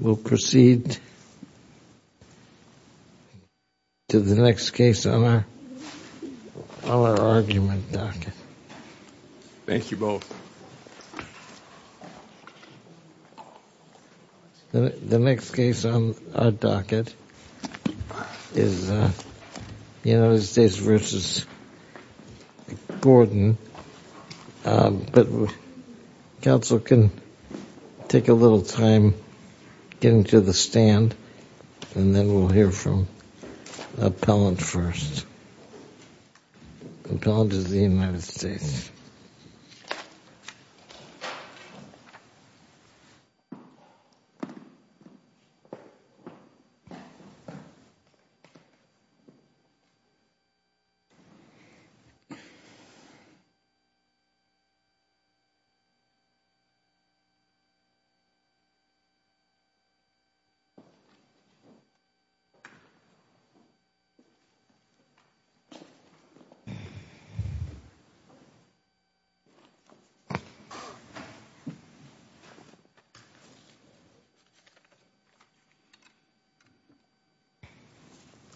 We'll proceed to the next case on our argument docket. Thank you both. The next case on our docket is United States v. Gordon, but counsel can take a little time getting to the stand, and then we'll hear from Appellant first. The charge is the United States.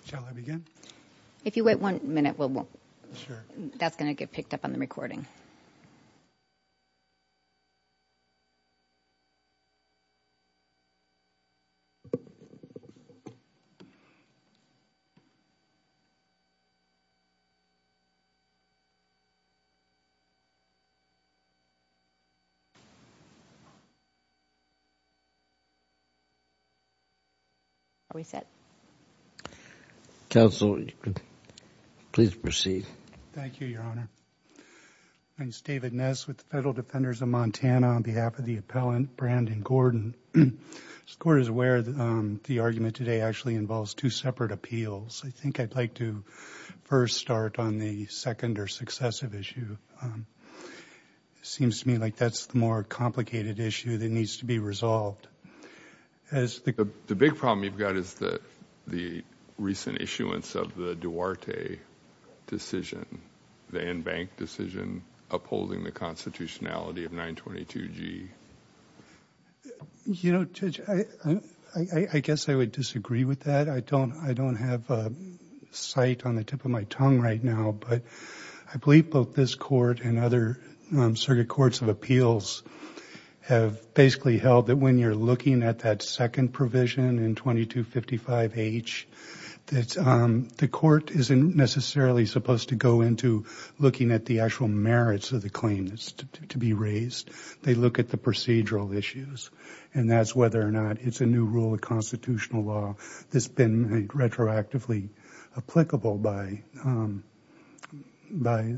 Shall I begin? If you wait one minute, that's going to get picked up on the recording. Are we set? Counsel, please proceed. Thank you, Your Honor. My name is David Ness with the Federal Defenders of Montana. On behalf of the Appellant, Brandon Gordon. As the Court is aware, the argument today actually involves two separate appeals. I think I'd like to first start on the second or successive issue. It seems to me like that's the more complicated issue that needs to be resolved. The big problem you've got is the recent issuance of the Duarte decision, the in-bank decision upholding the constitutionality of 922G. You know, Judge, I guess I would disagree with that. I don't have sight on the tip of my tongue right now, but I believe both this Court and other circuit courts of appeals have basically held that when you're looking at that second provision in 2255H, that the Court isn't necessarily supposed to go into looking at the actual merits of the claim that's to be raised. They look at the procedural issues, and that's whether or not it's a new rule of constitutional law that's been retroactively applicable by this Supreme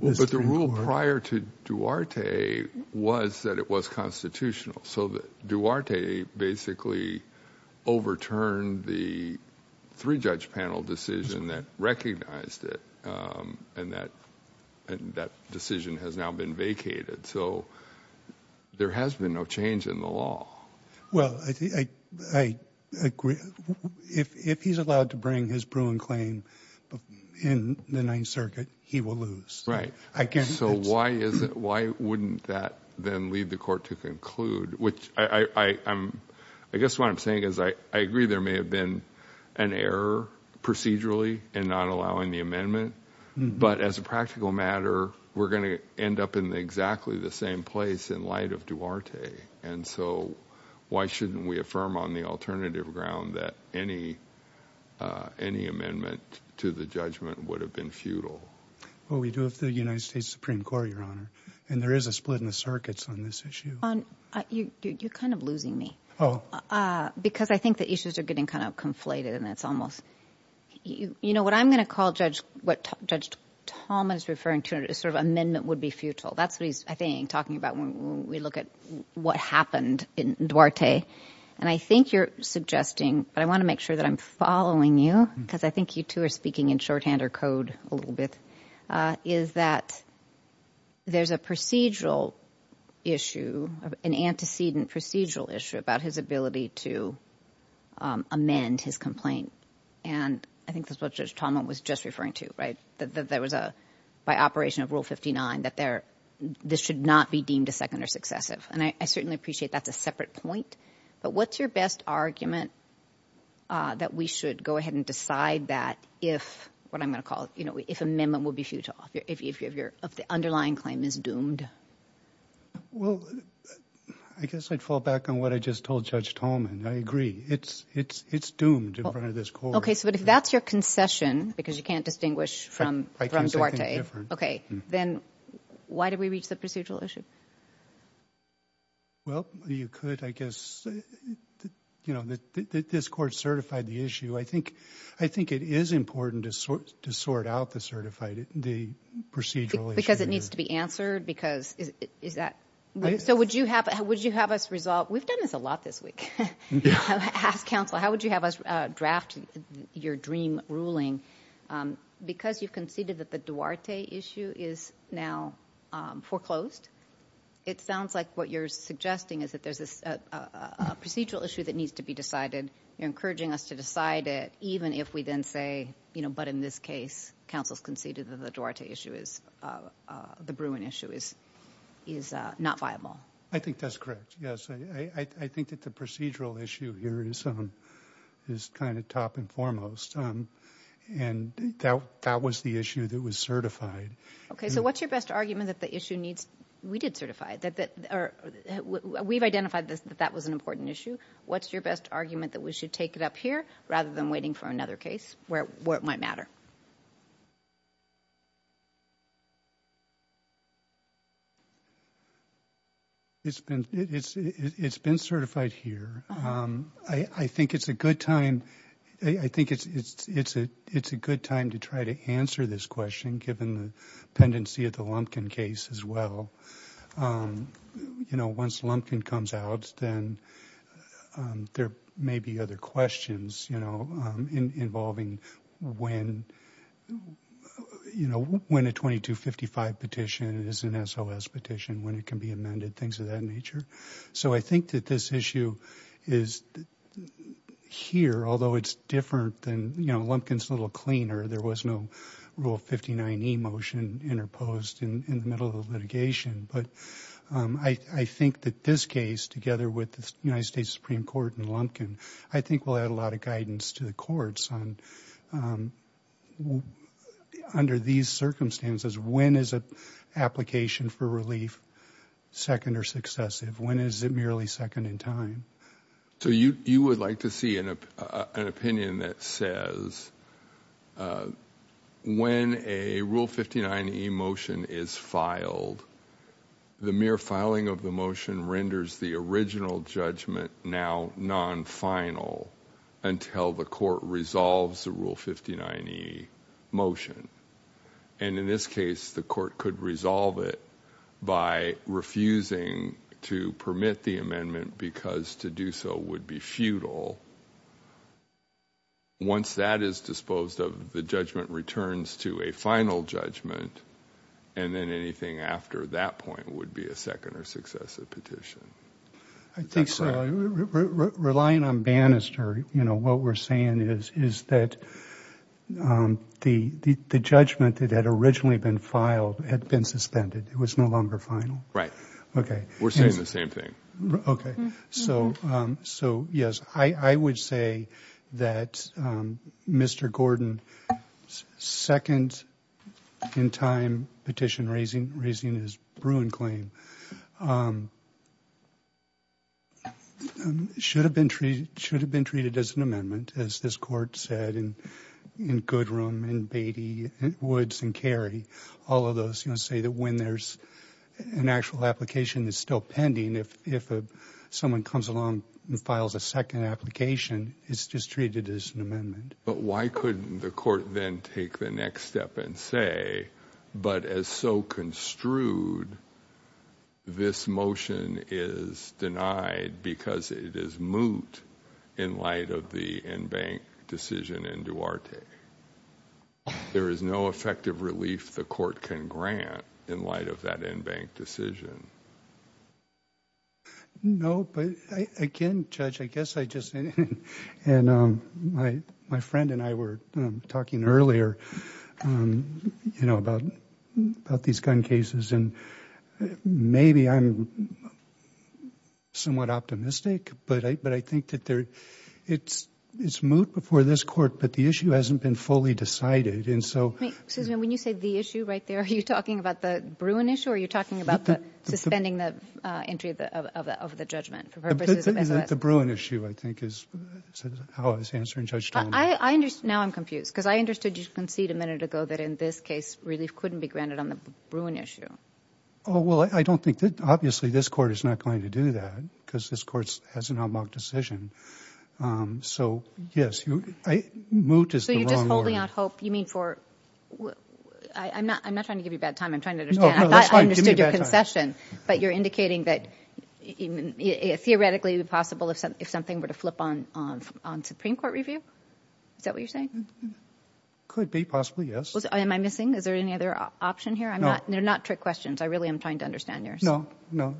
Court. But the rule prior to Duarte was that it was constitutional. So Duarte basically overturned the three-judge panel decision that recognized it, and that decision has now been vacated. So there has been no change in the law. Well, I agree. If he's allowed to bring his Bruin claim in the Ninth Circuit, he will lose. Right. So why wouldn't that then lead the Court to conclude, which I guess what I'm saying is I agree there may have been an error procedurally in not allowing the amendment, but as a practical matter, we're going to end up in exactly the same place in light of Duarte. And so why shouldn't we affirm on the alternative ground that any amendment to the judgment would have been futile? Well, we do have the United States Supreme Court, Your Honor, and there is a split in the circuits on this issue. You're kind of losing me. Oh. Because I think the issues are getting kind of conflated, and it's almost – you know, what I'm going to call what Judge Thomas is referring to is sort of amendment would be futile. That's what he's, I think, talking about when we look at what happened in Duarte. And I think you're suggesting, but I want to make sure that I'm following you, because I think you two are speaking in shorthand or code a little bit, is that there's a procedural issue, an antecedent procedural issue about his ability to amend his complaint. And I think that's what Judge Thomas was just referring to, right? That there was a – by operation of Rule 59 that there – this should not be deemed a second or successive. And I certainly appreciate that's a separate point, but what's your best argument that we should go ahead and decide that if – what I'm going to call, you know, if amendment would be futile, if the underlying claim is doomed? Well, I guess I'd fall back on what I just told Judge Tolman. I agree. It's doomed in front of this court. Okay, so if that's your concession, because you can't distinguish from Duarte, okay, then why did we reach the procedural issue? Well, you could, I guess. You know, this Court certified the issue. I think it is important to sort out the certified – the procedural issue. Because it needs to be answered? Because is that – so would you have us resolve – we've done this a lot this week. Ask counsel, how would you have us draft your dream ruling? Because you've conceded that the Duarte issue is now foreclosed, it sounds like what you're suggesting is that there's a procedural issue that needs to be decided. You're encouraging us to decide it even if we then say, you know, but in this case counsel's conceded that the Duarte issue is – the Bruin issue is not viable. I think that's correct, yes. I think that the procedural issue here is kind of top and foremost. And that was the issue that was certified. Okay, so what's your best argument that the issue needs – we did certify it. We've identified that that was an important issue. What's your best argument that we should take it up here rather than waiting for another case where it might matter? It's been certified here. I think it's a good time – I think it's a good time to try to answer this question given the dependency of the Lumpkin case as well. You know, once Lumpkin comes out then there may be other questions, you know, involving when a 2255 petition is an SOS petition, when it can be amended, things of that nature. So I think that this issue is here, although it's different than – you know, Lumpkin's a little cleaner. There was no Rule 59e motion interposed in the middle of the litigation. But I think that this case together with the United States Supreme Court and Lumpkin I think will add a lot of guidance to the courts under these circumstances. When is an application for relief second or successive? When is it merely second in time? So you would like to see an opinion that says when a Rule 59e motion is filed, the mere filing of the motion renders the original judgment now non-final until the court resolves the Rule 59e motion. And in this case, the court could resolve it by refusing to permit the amendment because to do so would be futile. Once that is disposed of, the judgment returns to a final judgment and then anything after that point would be a second or successive petition. I think so. Relying on Bannister, you know, what we're saying is that the judgment that had originally been filed had been suspended. It was no longer final. Right. We're saying the same thing. Okay. So yes. I would say that Mr. Gordon's second in time petition raising his Bruin claim should have been treated as an amendment, as this court said, in Goodrum, in Beatty, in Woods, in Cary. All of those, you know, say that when there's an actual application that's still pending, if someone comes along and files a second application, it's just treated as an amendment. But why couldn't the court then take the next step and say, but as so construed, this motion is denied because it is moot in light of the in-bank decision in Duarte. There is no effective relief the court can grant in light of that in-bank decision. No, but again, Judge, I guess I just, and my friend and I were talking earlier, you know, about these gun cases, and maybe I'm somewhat optimistic, but I think that it's moot before this court, but the issue hasn't been fully decided. Excuse me. When you say the issue right there, are you talking about the Bruin issue, or are you talking about suspending the entry of the judgment? The Bruin issue, I think, is how I was answering Judge Talmadge. Now I'm confused, because I understood you concede a minute ago that in this case relief couldn't be granted on the Bruin issue. Oh, well, I don't think, obviously this court is not going to do that, because this court has an out-and-out decision. So yes, moot is the wrong word. So you're just holding out hope, you mean for, I'm not trying to give you a bad time, I'm trying to understand, I thought I understood your concession, but you're indicating that theoretically it would be possible if something were to flip on Supreme Court review? Is that what you're saying? Could be, possibly, yes. Am I missing? Is there any other option here? They're not trick questions. I really am trying to understand yours. No, no.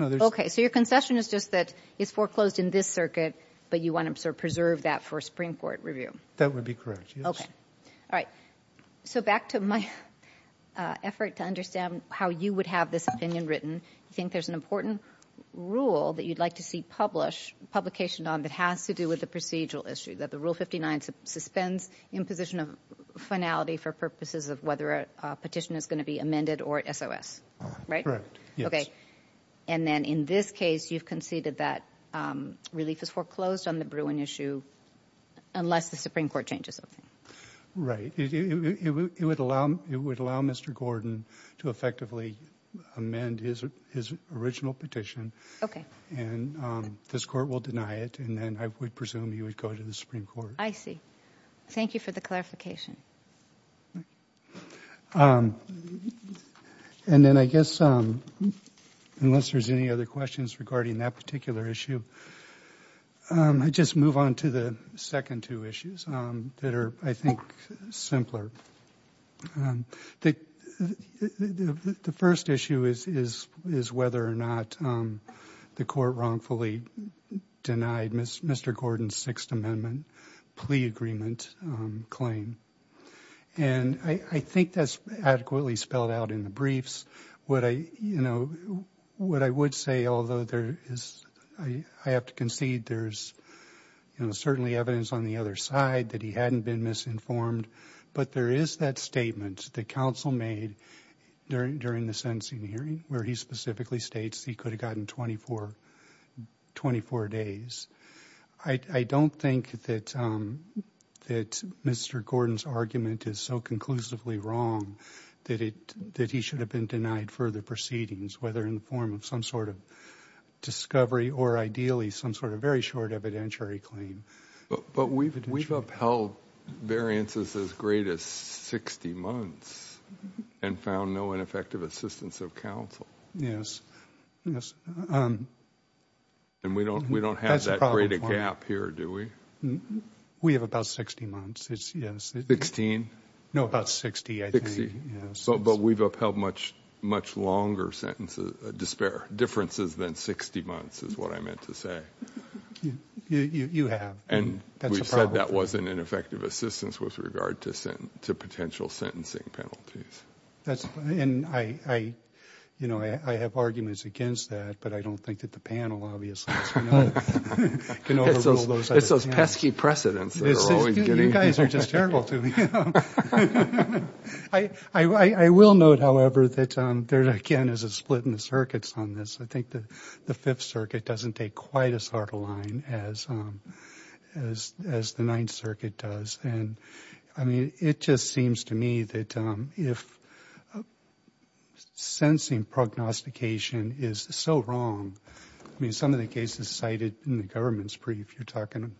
Okay, so your concession is just that it's foreclosed in this circuit, but you want to preserve that for Supreme Court review? That would be correct, yes. All right, so back to my effort to understand how you would have this opinion written. You think there's an important rule that you'd like to see published, publication on, that has to do with the procedural issue, that the Rule 59 suspends imposition of finality for purposes of whether a petition is going to be amended or SOS, right? Correct, yes. And then in this case, you've conceded that relief is foreclosed on the Bruin issue unless the Supreme Court changes something. Right. It would allow Mr. Gordon to effectively amend his original petition, and this Court will deny it, and then I would presume he would go to the Supreme Court. I see. Thank you for the clarification. Right. And then I guess, unless there's any other questions regarding that particular issue, I'd just move on to the second two issues that are, I think, simpler. The first issue is whether or not the Court wrongfully denied Mr. Gordon's Sixth Amendment plea agreement claim, and I think that's adequately spelled out in the briefs. What I would say, although I have to concede there's certainly evidence on the other side that he hadn't been misinformed, but there is that statement that counsel made during the sentencing hearing, where he specifically states he could have gotten 24 days. I don't think that Mr. Gordon's argument is so conclusively wrong, that he should have been denied further proceedings, whether in the form of some sort of discovery, or ideally some sort of very short evidentiary claim. But we've upheld variances as great as 60 months, and found no ineffective assistance of counsel. And we don't have that great a gap here, do we? We have about 60 months. But we've upheld much longer sentences, differences than 60 months, is what I meant to say. You have, and that's a problem. And we've said that wasn't an effective assistance with regard to potential sentencing penalties. And I have arguments against that, but I don't think that the panel, obviously, can overrule those. It's those pesky precedents. You guys are just terrible to me. I will note, however, that there, again, is a split in the circuits on this. I think the Fifth Circuit doesn't take quite as hard a line as the Ninth Circuit does. And, I mean, it just seems to me that if sensing prognostication is so wrong, I mean, some of the cases cited in the government's brief, if you're talking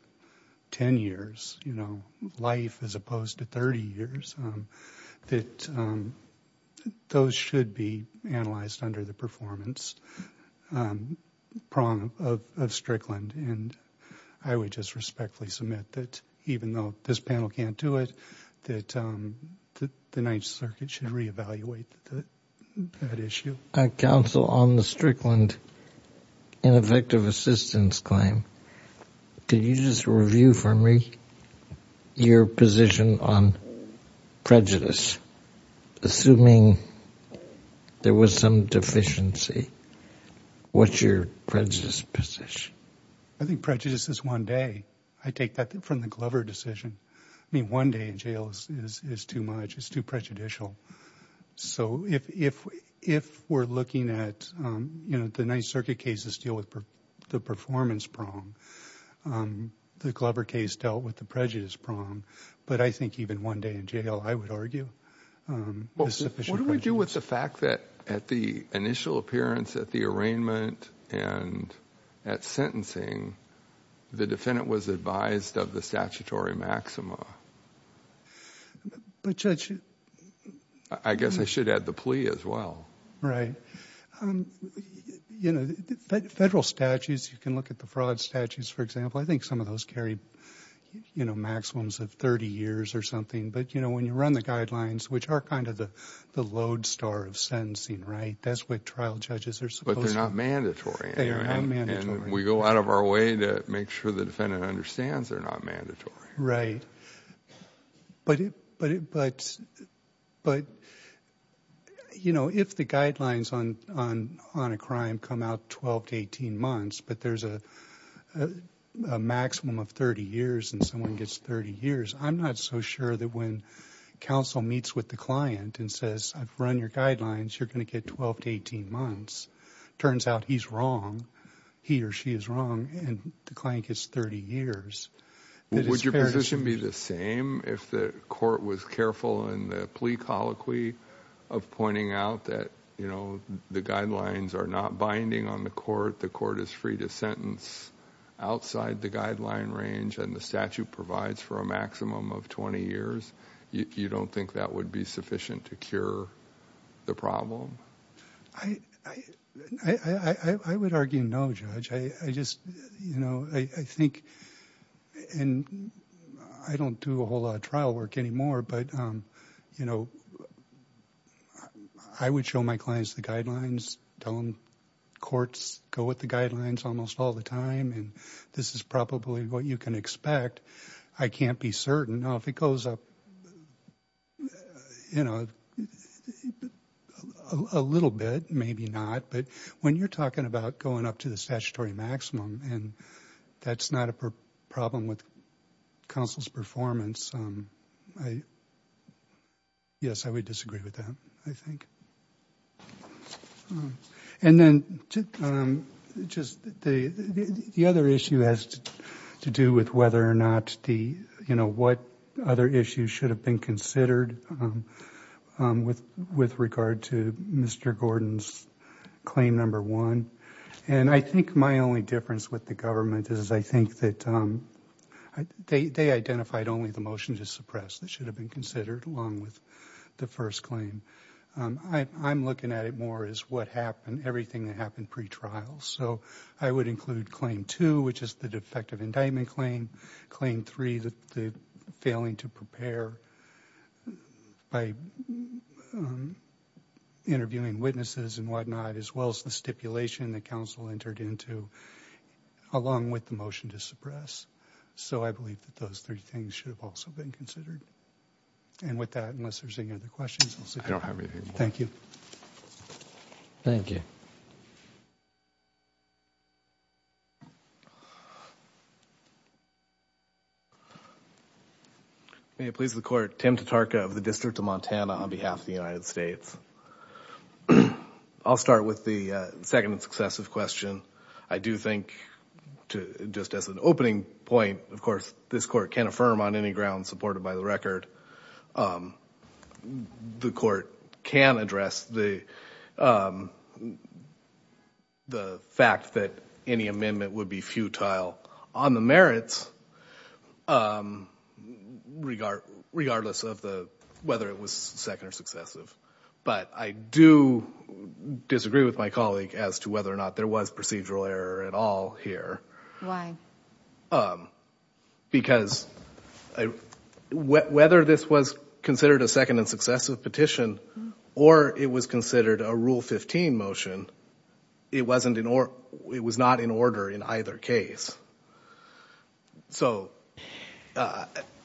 10 years, you know, life as opposed to 30 years, that those should be analyzed under the performance prong of Strickland. And I would just respectfully submit that even though this panel can't do it, that the Ninth Circuit should reevaluate that issue. Counsel, on the Strickland ineffective assistance claim, could you just review for me your position on prejudice? Assuming there was some deficiency, what's your prejudice position? I think prejudice is one day. I take that from the Glover decision. I mean, one day in jail is too much. It's too prejudicial. So if we're looking at, you know, the Ninth Circuit cases deal with the performance prong, the Glover case dealt with the prejudice prong. But I think even one day in jail, I would argue, is sufficient prejudice. What do we do with the fact that at the initial appearance, at the arraignment, and at sentencing, the defendant was advised of the statutory maxima? But Judge... I guess I should add the plea as well. Right. You know, federal statutes, you can look at the fraud statutes, for example. I think some of those carry, you know, maximums of 30 years or something. But, you know, when you run the guidelines, which are kind of the lodestar of sentencing, right? That's what trial judges are supposed to... But they're not mandatory. They are not mandatory. And we go out of our way to make sure the defendant understands they're not mandatory. Right. But, you know, if the guidelines on a crime come out 12 to 18 months, but there's a maximum of 30 years and someone gets 30 years, I'm not so sure that when counsel meets with the client and says, I've run your guidelines, you're going to get 12 to 18 months. Turns out he's wrong, he or she is wrong, and the client gets 30 years. Would your position be the same if the court was careful in the plea colloquy of pointing out that, you know, the guidelines are not binding on the court, the court is free to sentence outside the guideline range, and the statute provides for a maximum of 20 years? You don't think that would be sufficient to cure the problem? I would argue no, Judge. I just, you know, I think, and I don't do a whole lot of trial work anymore, but, you know, I would show my clients the guidelines, tell them courts go with the guidelines almost all the time, and this is probably what you can expect. I can't be certain. Now, if it goes up, you know, a little bit, maybe not, but when you're talking about going up to the statutory maximum and that's not a problem with counsel's performance, yes, I would disagree with that, I think. And then just the other issue has to do with whether or not the, you know, what other issues should have been considered with regard to Mr. Gordon's claim number one, and I think my only difference with the government is I think that they identified only the motion to suppress that should have been considered along with the first claim. I'm looking at it more as what happened, everything that happened pre-trial. So I would include claim two, which is the defective indictment claim, claim three, the failing to prepare by interviewing witnesses and whatnot, as well as the stipulation that counsel entered into along with the motion to suppress. So I believe that those three things should have also been considered. And with that, unless there's any other questions, we'll see. I don't have anything more. Thank you. May it please the Court. Tim Tatarka of the District of Montana on behalf of the United States. I'll start with the second and successive question. I do think just as an opening point, of course, this Court can affirm on any ground supported by the record. The Court can address the fact that any amendment would be futile on the merits, regardless of whether it was second or successive. But I do disagree with my colleague as to whether or not there was procedural error at all here. Why? Because whether this was considered a second and successive petition or it was considered a Rule 15 motion, it was not in order in either case. So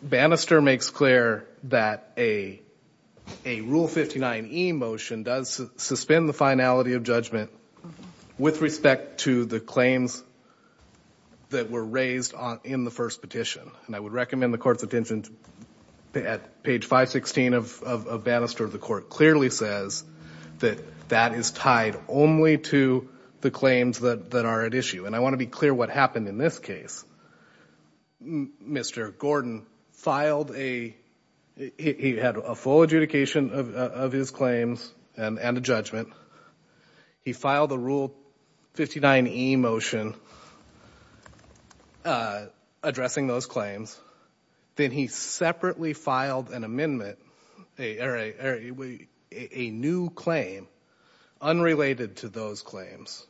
Bannister makes clear that a Rule 59e motion does suspend the finality of judgment with respect to the claims that were raised in the first petition. And I would recommend the Court's attention at page 516 of Bannister. The Court clearly says that that is tied only to the claims that are at issue. And I want to be clear what happened in this case. Mr. Gordon filed a – he had a full adjudication of his claims and a judgment. He filed a Rule 59e motion addressing those claims. Then he separately filed an amendment – a new claim unrelated to those claims.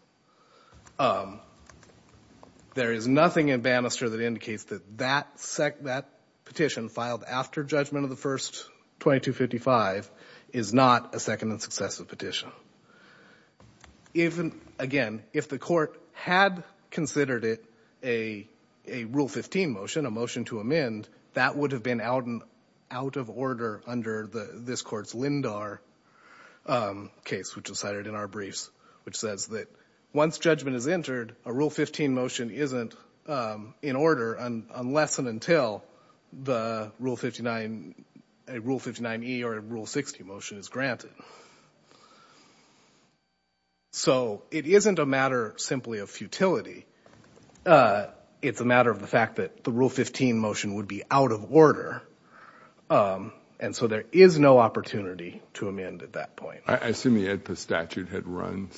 There is nothing in Bannister that indicates that that petition filed after judgment of the first 2255 is not a second and successive petition. Again, if the Court had considered it a Rule 15 motion, a motion to amend, that would have been out of order under this Court's Lindar case, which was cited in our briefs, which says that once judgment is entered, a Rule 15 motion isn't in order unless and until the Rule 59 – a Rule 59e or a Rule 60 motion is granted. So it isn't a matter simply of futility. It's a matter of the fact that the Rule 15 motion would be out of order. And so there is no opportunity to amend at that point. I assume the AEDPA statute had run.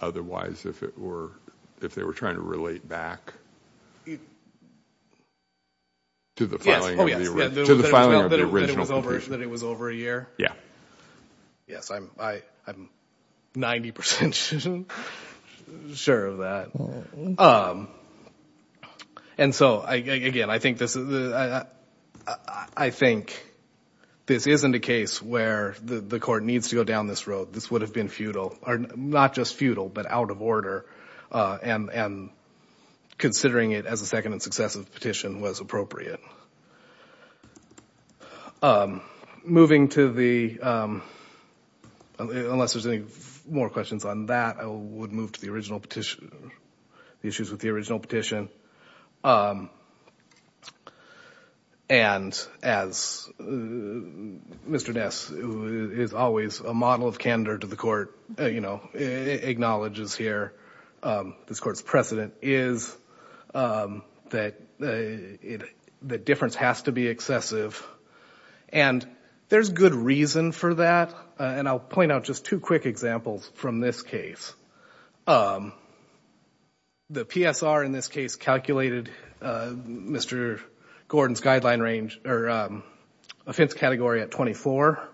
Otherwise, if it were – if they were trying to relate back to the filing of the – Yes. Oh, yes. To the filing of the original petition. That it was over a year? Yeah. Yes, I'm 90 percent sure of that. And so, again, I think this isn't a case where the Court needs to go down this road. This would have been futile – or not just futile, but out of order, and considering it as a second and successive petition was appropriate. Moving to the – unless there's any more questions on that, I would move to the original petition – the issues with the original petition. And as Mr. Ness, who is always a model of candor to the Court, acknowledges here, this Court's precedent is that difference has to be excessive. And there's good reason for that. And I'll point out just two quick examples from this case. The PSR in this case calculated Mr. Gordon's offense category at 24.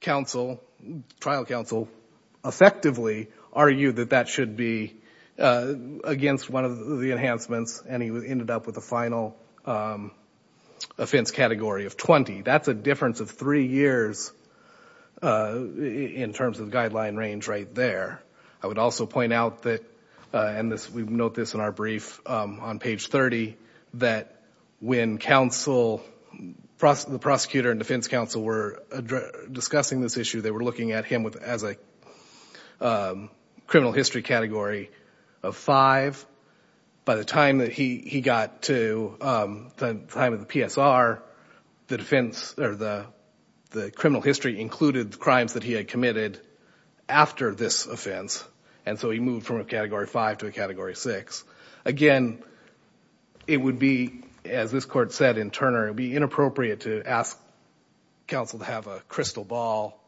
Trial counsel effectively argued that that should be against one of the enhancements, and he ended up with a final offense category of 20. That's a difference of three years in terms of guideline range right there. I would also point out that – and we note this in our brief on page 30 – that when the prosecutor and defense counsel were discussing this issue, they were looking at him as a criminal history category of five. By the time that he got to the time of the PSR, the criminal history included the crimes that he had committed after this offense. And so he moved from a category five to a category six. Again, it would be, as this Court said in Turner, it would be inappropriate to ask counsel to have a crystal ball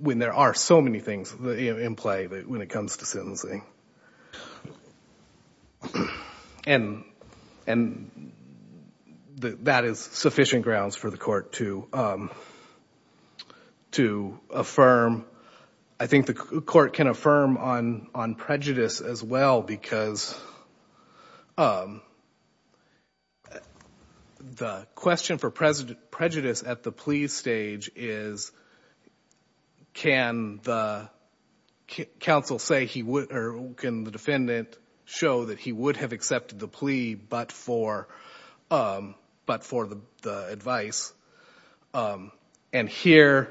when there are so many things in play when it comes to sentencing. And that is sufficient grounds for the Court to affirm. I think the Court can affirm on prejudice as well, because the question for prejudice at the plea stage is, can the defendant show that he would have accepted the plea but for the advice? And here,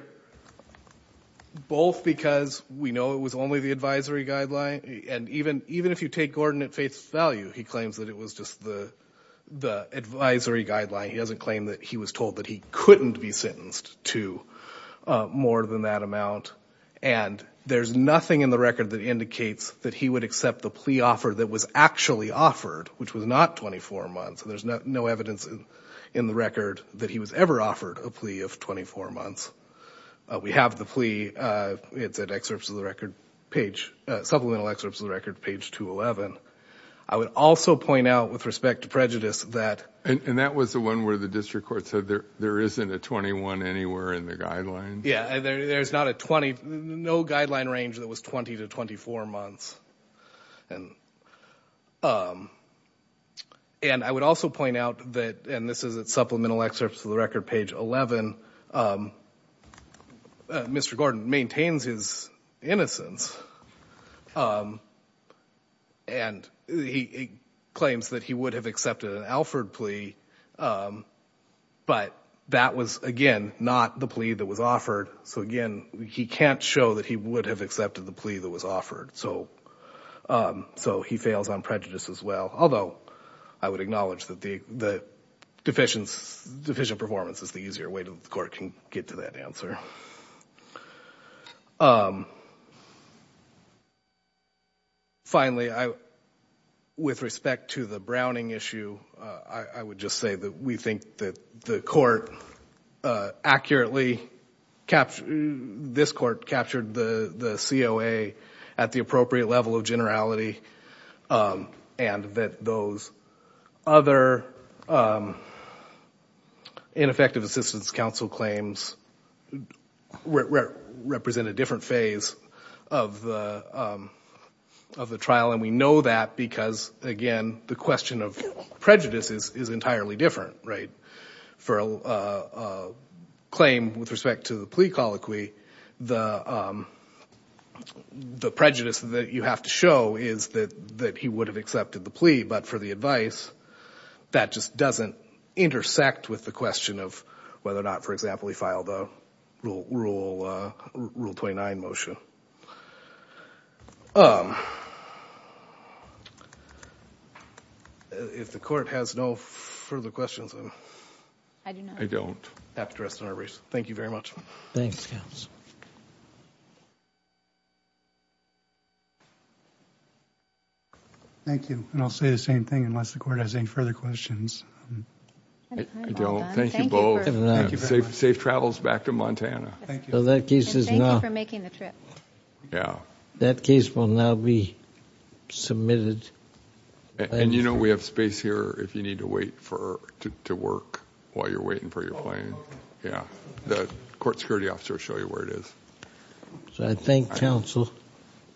both because we know it was only the advisory guideline, and even if you take Gordon at face value, he claims that it was just the advisory guideline. He doesn't claim that he was told that he couldn't be sentenced to more than that amount. And there's nothing in the record that indicates that he would accept the plea offer that was actually offered, which was not 24 months. There's no evidence in the record that he was ever offered a plea of 24 months. We have the plea. It's at supplemental excerpts of the record, page 211. I would also point out, with respect to prejudice, that – And that was the one where the district court said there isn't a 21 anywhere in the guidelines? Yeah, there's not a 20 – no guideline range that was 20 to 24 months. And I would also point out that – and this is at supplemental excerpts of the record, page 11 – Mr. Gordon maintains his innocence, and he claims that he would have accepted an Alford plea, but that was, again, not the plea that was offered. So, again, he can't show that he would have accepted the plea that was offered. So he fails on prejudice as well, although I would acknowledge that the deficient performance is the easier way that the court can get to that answer. Finally, with respect to the Browning issue, I would just say that we think that the court accurately – this court captured the COA at the appropriate level of generality, and that those other ineffective assistance counsel claims represent a different phase of the trial. And we know that because, again, the question of prejudice is entirely different, right? For a claim with respect to the plea colloquy, the prejudice that you have to show is that he would have accepted the plea. But for the advice, that just doesn't intersect with the question of whether or not, for example, he filed a Rule 29 motion. If the court has no further questions, I'm happy to rest on our brace. Thank you very much. Thanks, counsel. Thank you, and I'll say the same thing unless the court has any further questions. Thank you both. Safe travels back to Montana. Thank you. Thank you for making the trip. Yeah. That case will now be submitted. And you know we have space here if you need to wait to work while you're waiting for your plane. Yeah. The court security officer will show you where it is. So I thank counsel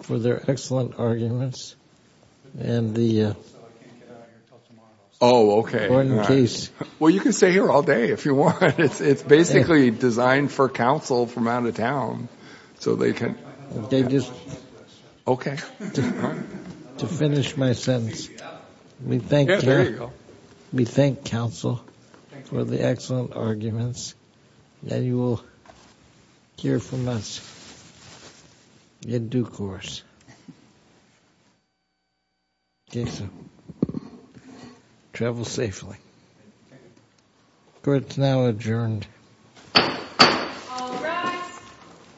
for their excellent arguments and the court case. Well, you can stay here all day if you want. It's basically designed for counsel from out of town, so they can. They just. Okay. To finish my sentence, we thank counsel for the excellent arguments. And you will hear from us in due course. Okay, so travel safely. Court is now adjourned. All rise.